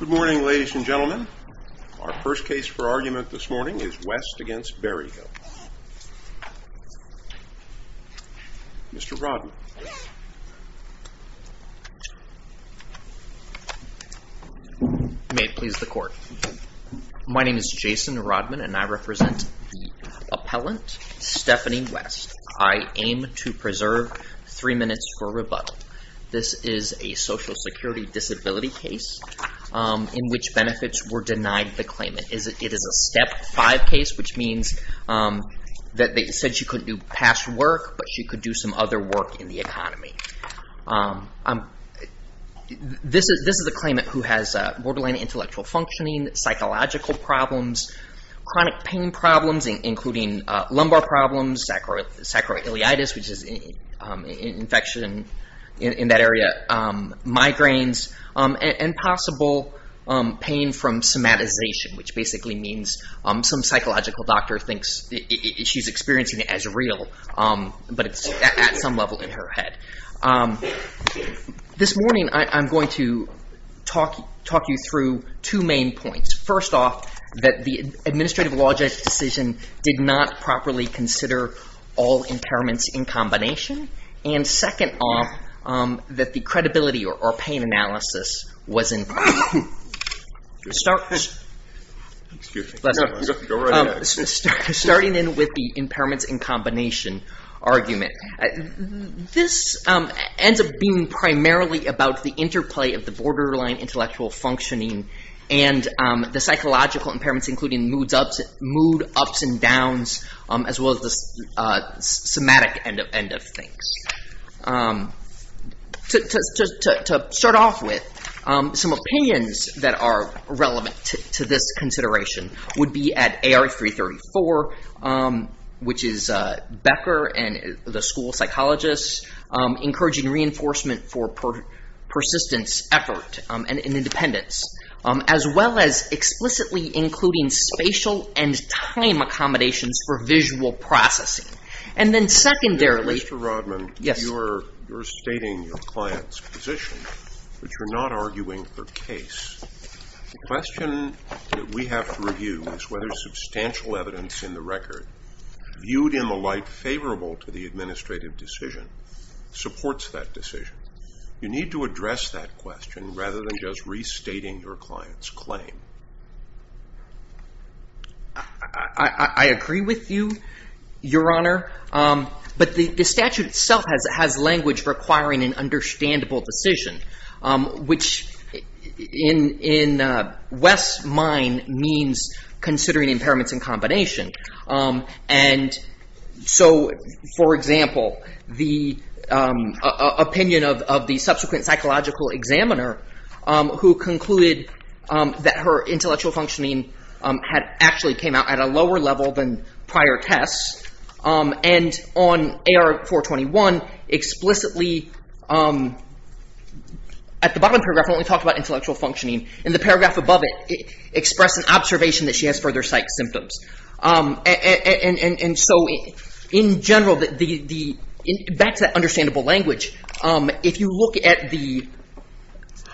Good morning, ladies and gentlemen. Our first case for argument this morning is West v. Berryhill. Mr. Rodman. May it please the court. My name is Jason Rodman and I represent the appellant Stephanie West. I aim to preserve three minutes for rebuttal. This is a social security disability case in which benefits were denied the claimant. It is a Step 5 case, which means that they said she couldn't do past work, but she could do some other work in the economy. This is a claimant who has borderline intellectual functioning, psychological problems, chronic pain problems, including lumbar problems, sacroiliitis, which is an infection in that area, migraines, and possible pain from somatization, which basically means some psychological doctor thinks she's experiencing it as real, but it's at some level in her head. This morning I'm going to talk you through two main points. First off, that the administrative law judge's decision did not properly consider all impairments in combination. And second off, that the credibility or pain analysis wasn't... Starting in with the impairments in combination argument. This ends up being primarily about the interplay of the borderline intellectual functioning and the psychological impairments, including mood ups and downs, as well as the somatic end of things. To start off with, some opinions that are relevant to this consideration would be at AR334, which is Becker and the school psychologist encouraging reinforcement for persistence, effort, and independence, as well as explicitly including spatial and time accommodations for visual processing. And then secondarily... Mr. Rodman, you're stating your client's position, but you're not arguing for case. The question that we have to review is whether substantial evidence in the record, viewed in the light favorable to the administrative decision, supports that decision. You need to address that question rather than just restating your client's claim. I agree with you, Your Honor. But the statute itself has language requiring an understandable decision, which in West's mind means considering impairments in combination. And so, for example, the opinion of the subsequent psychological examiner, who concluded that her intellectual functioning actually came out at a lower level than prior tests, and on AR421, explicitly, at the bottom of the paragraph, only talked about intellectual functioning. And the paragraph above it expressed an observation that she has further psych symptoms. And so, in general, back to that understandable language, if you look at the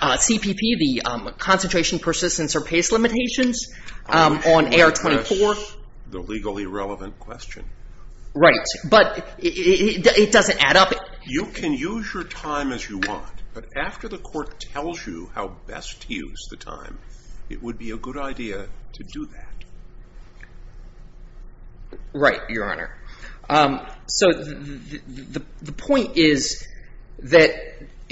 CPP, the concentration, persistence, or pace limitations, on AR24... Which would address the legally relevant question. Right, but it doesn't add up. You can use your time as you want, but after the court tells you how best to use the time, it would be a good idea to do that. Right, Your Honor. So, the point is that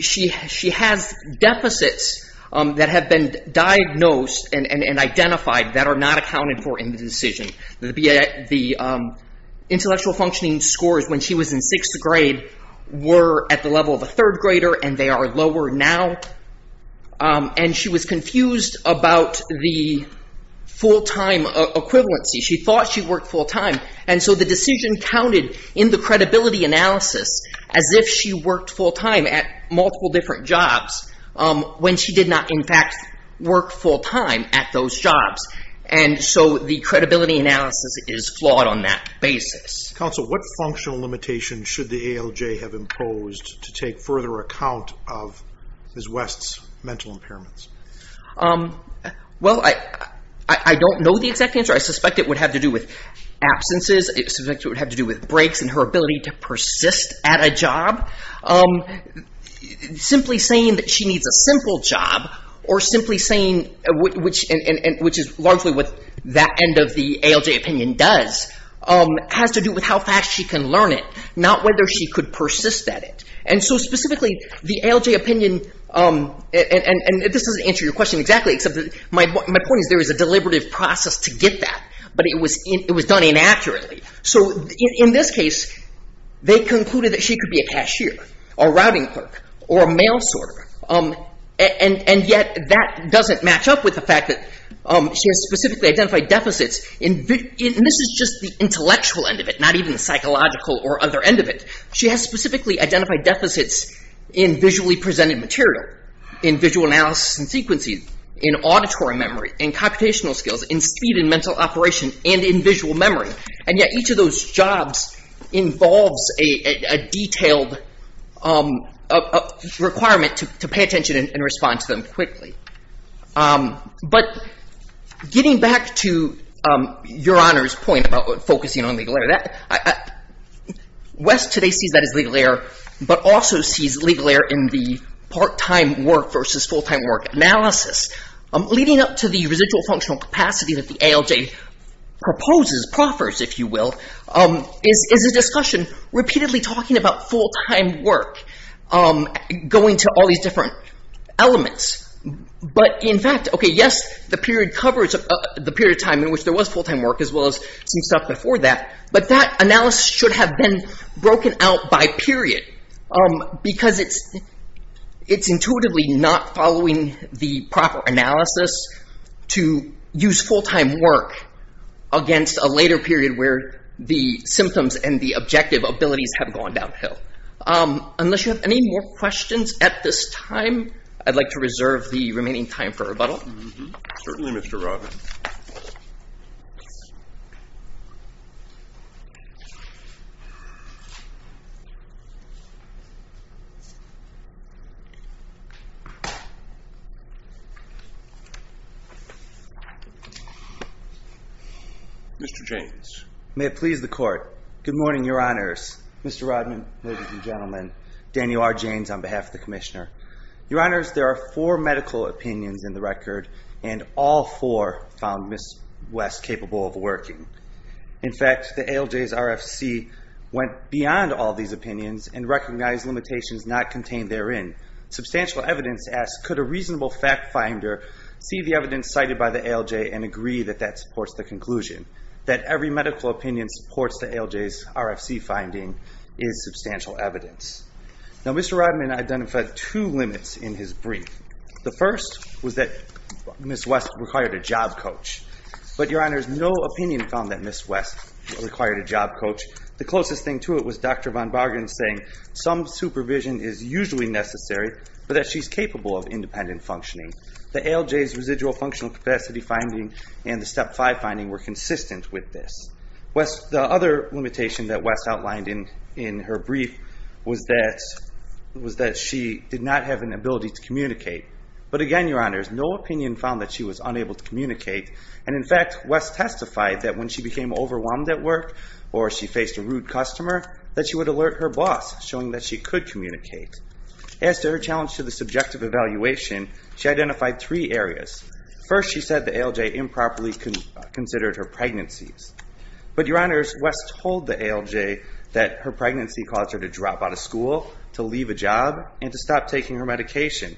she has deficits that have been diagnosed and identified that are not accounted for in the decision. The intellectual functioning scores when she was in 6th grade were at the level of a 3rd grader, and they are lower now. And she was confused about the full-time equivalency. She thought she worked full-time, and so the decision counted in the credibility analysis as if she worked full-time at multiple different jobs, when she did not, in fact, work full-time at those jobs. And so the credibility analysis is flawed on that basis. Counsel, what functional limitations should the ALJ have imposed to take further account of Ms. West's mental impairments? Well, I don't know the exact answer. I suspect it would have to do with absences. I suspect it would have to do with breaks and her ability to persist at a job. Simply saying that she needs a simple job, or simply saying, which is largely what that end of the ALJ opinion does, has to do with how fast she can learn it, not whether she could persist at it. And so specifically, the ALJ opinion, and this doesn't answer your question exactly, except that my point is there is a deliberative process to get that, but it was done inaccurately. So, in this case, they concluded that she could be a cashier, a routing clerk, or a mail sorter. And yet, that doesn't match up with the fact that she has specifically identified deficits. And this is just the intellectual end of it, not even the psychological or other end of it. She has specifically identified deficits in visually presented material, in visual analysis and sequencing, in auditory memory, in computational skills, in speed and mental operation, and in visual memory. And yet, each of those jobs involves a detailed requirement to pay attention and respond to them quickly. But getting back to Your Honor's point about focusing on legal error, West today sees that as legal error, but also sees legal error in the part-time work versus full-time work analysis. Leading up to the residual functional capacity that the ALJ proposes, proffers, if you will, is a discussion repeatedly talking about full-time work, going to all these different elements. But, in fact, yes, the period of time in which there was full-time work, as well as some stuff before that, but that analysis should have been broken out by period, because it's intuitively not following the proper analysis to use full-time work against a later period where the symptoms and the objective abilities have gone downhill. Unless you have any more questions at this time, I'd like to reserve the remaining time for rebuttal. Certainly, Mr. Rodman. Mr. Jaynes. May it please the Court. Good morning, Your Honors. Mr. Rodman, ladies and gentlemen. Daniel R. Jaynes on behalf of the Commissioner. Your Honors, there are four medical opinions in the record, and all four found Ms. West capable of working. In fact, the ALJ's RFC went beyond all these opinions and recognized limitations not contained therein. Substantial evidence asks, could a reasonable fact finder see the evidence cited by the ALJ and agree that that supports the conclusion? That every medical opinion supports the ALJ's RFC finding is substantial evidence. Now, Mr. Rodman identified two limits in his brief. The first was that Ms. West required a job coach. But, Your Honors, no opinion found that Ms. West required a job coach. The closest thing to it was Dr. Von Bargen saying some supervision is usually necessary, but that she's capable of independent functioning. The ALJ's residual functional capacity finding and the Step 5 finding were consistent with this. The other limitation that West outlined in her brief was that she did not have an ability to communicate. But again, Your Honors, no opinion found that she was unable to communicate, and in fact, West testified that when she became overwhelmed at work or she faced a rude customer, that she would alert her boss showing that she could communicate. As to her challenge to the subjective evaluation, she identified three areas. First, she said the ALJ improperly considered her pregnancies. But, Your Honors, West told the ALJ that her pregnancy caused her to drop out of school, to leave a job, and to stop taking her medication.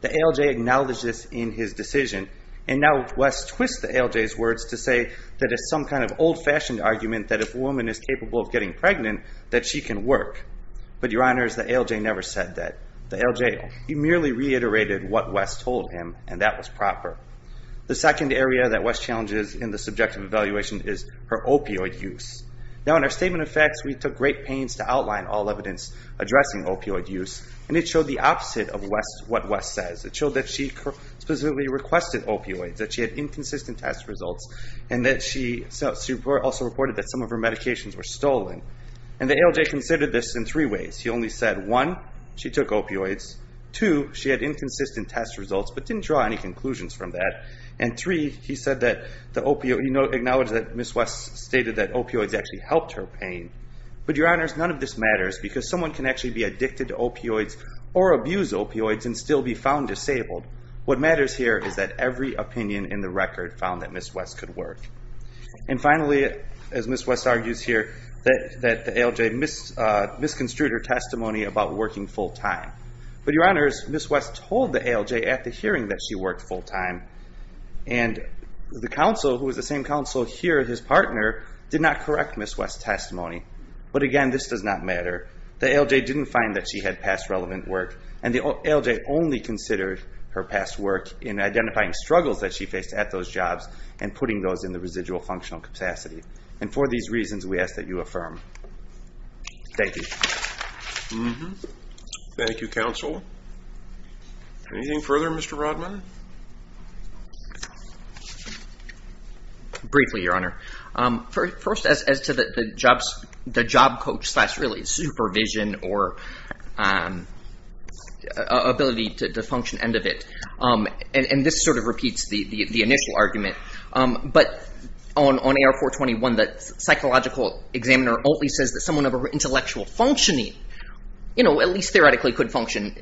The ALJ acknowledged this in his decision, and now West twists the ALJ's words to say that it's some kind of old-fashioned argument that if a woman is capable of getting pregnant, that she can work. But, Your Honors, the ALJ never said that. The ALJ merely reiterated what West told him, and that was proper. The second area that West challenges in the subjective evaluation is her opioid use. Now, in our statement of facts, we took great pains to outline all evidence addressing opioid use, and it showed the opposite of what West says. It showed that she specifically requested opioids, that she had inconsistent test results, and that she also reported that some of her medications were stolen. And the ALJ considered this in three ways. He only said, one, she took opioids, two, she had inconsistent test results but didn't draw any conclusions from that, and three, he said that the opioid... But, Your Honors, none of this matters because someone can actually be addicted to opioids or abuse opioids and still be found disabled. What matters here is that every opinion in the record found that Ms. West could work. And finally, as Ms. West argues here, that the ALJ misconstrued her testimony about working full-time. But, Your Honors, Ms. West told the ALJ at the hearing that she worked full-time, and the counsel, who was the same counsel here, his partner, did not correct Ms. West's testimony. But, again, this does not matter. The ALJ didn't find that she had past relevant work, and the ALJ only considered her past work in identifying struggles that she faced at those jobs and putting those in the residual functional capacity. And for these reasons, we ask that you affirm. Thank you. Thank you, counsel. Anything further, Mr. Rodman? Briefly, Your Honor. First, as to the job coach slash, really, supervision or ability to function end of it, and this sort of repeats the initial argument, but on AR-421, the psychological examiner only says that someone of intellectual functioning, you know, at least theoretically could function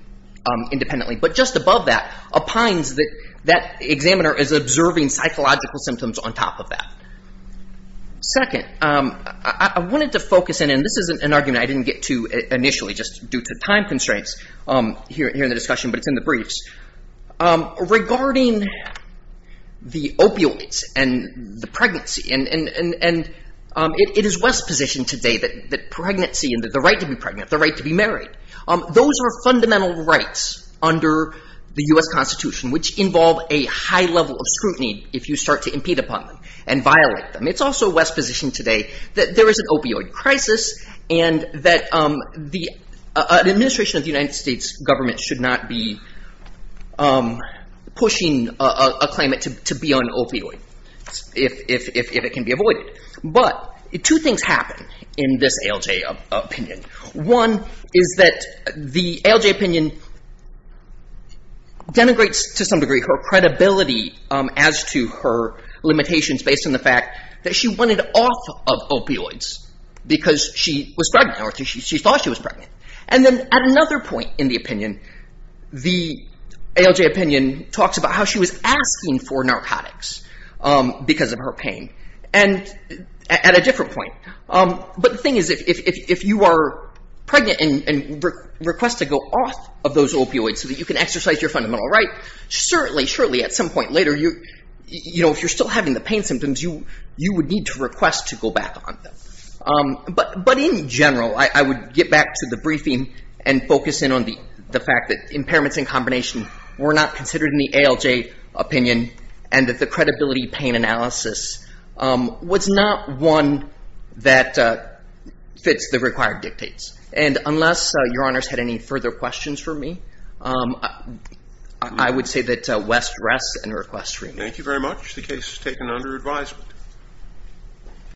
independently, but just above that, opines that that examiner is observing psychological symptoms on top of that. Second, I wanted to focus in, and this is an argument I didn't get to initially just due to time constraints here in the discussion, but it's in the briefs, regarding the opioids and the pregnancy, and it is West's position today that pregnancy and the right to be pregnant, the right to be married, those are fundamental rights under the U.S. Constitution, which involve a high level of scrutiny if you start to impede upon them and violate them. It's also West's position today that there is an opioid crisis and that the administration of the United States government should not be pushing a claimant to be on opioids if it can be avoided. But two things happen in this ALJ opinion. One is that the ALJ opinion denigrates to some degree her credibility as to her limitations based on the fact that she wanted off of opioids because she was pregnant, or she thought she was pregnant. And then at another point in the opinion, the ALJ opinion talks about how she was asking for narcotics because of her pain, and at a different point. But the thing is, if you are pregnant and request to go off of those opioids so that you can exercise your fundamental right, certainly, surely at some point later, if you're still having the pain symptoms, you would need to request to go back on them. But in general, I would get back to the briefing and focus in on the fact that impairments in combination were not considered in the ALJ opinion and that the credibility pain analysis was not one that fits the required dictates. And unless Your Honors had any further questions for me, I would say that West rests and requests reaming. Thank you very much. The case is taken under advisement.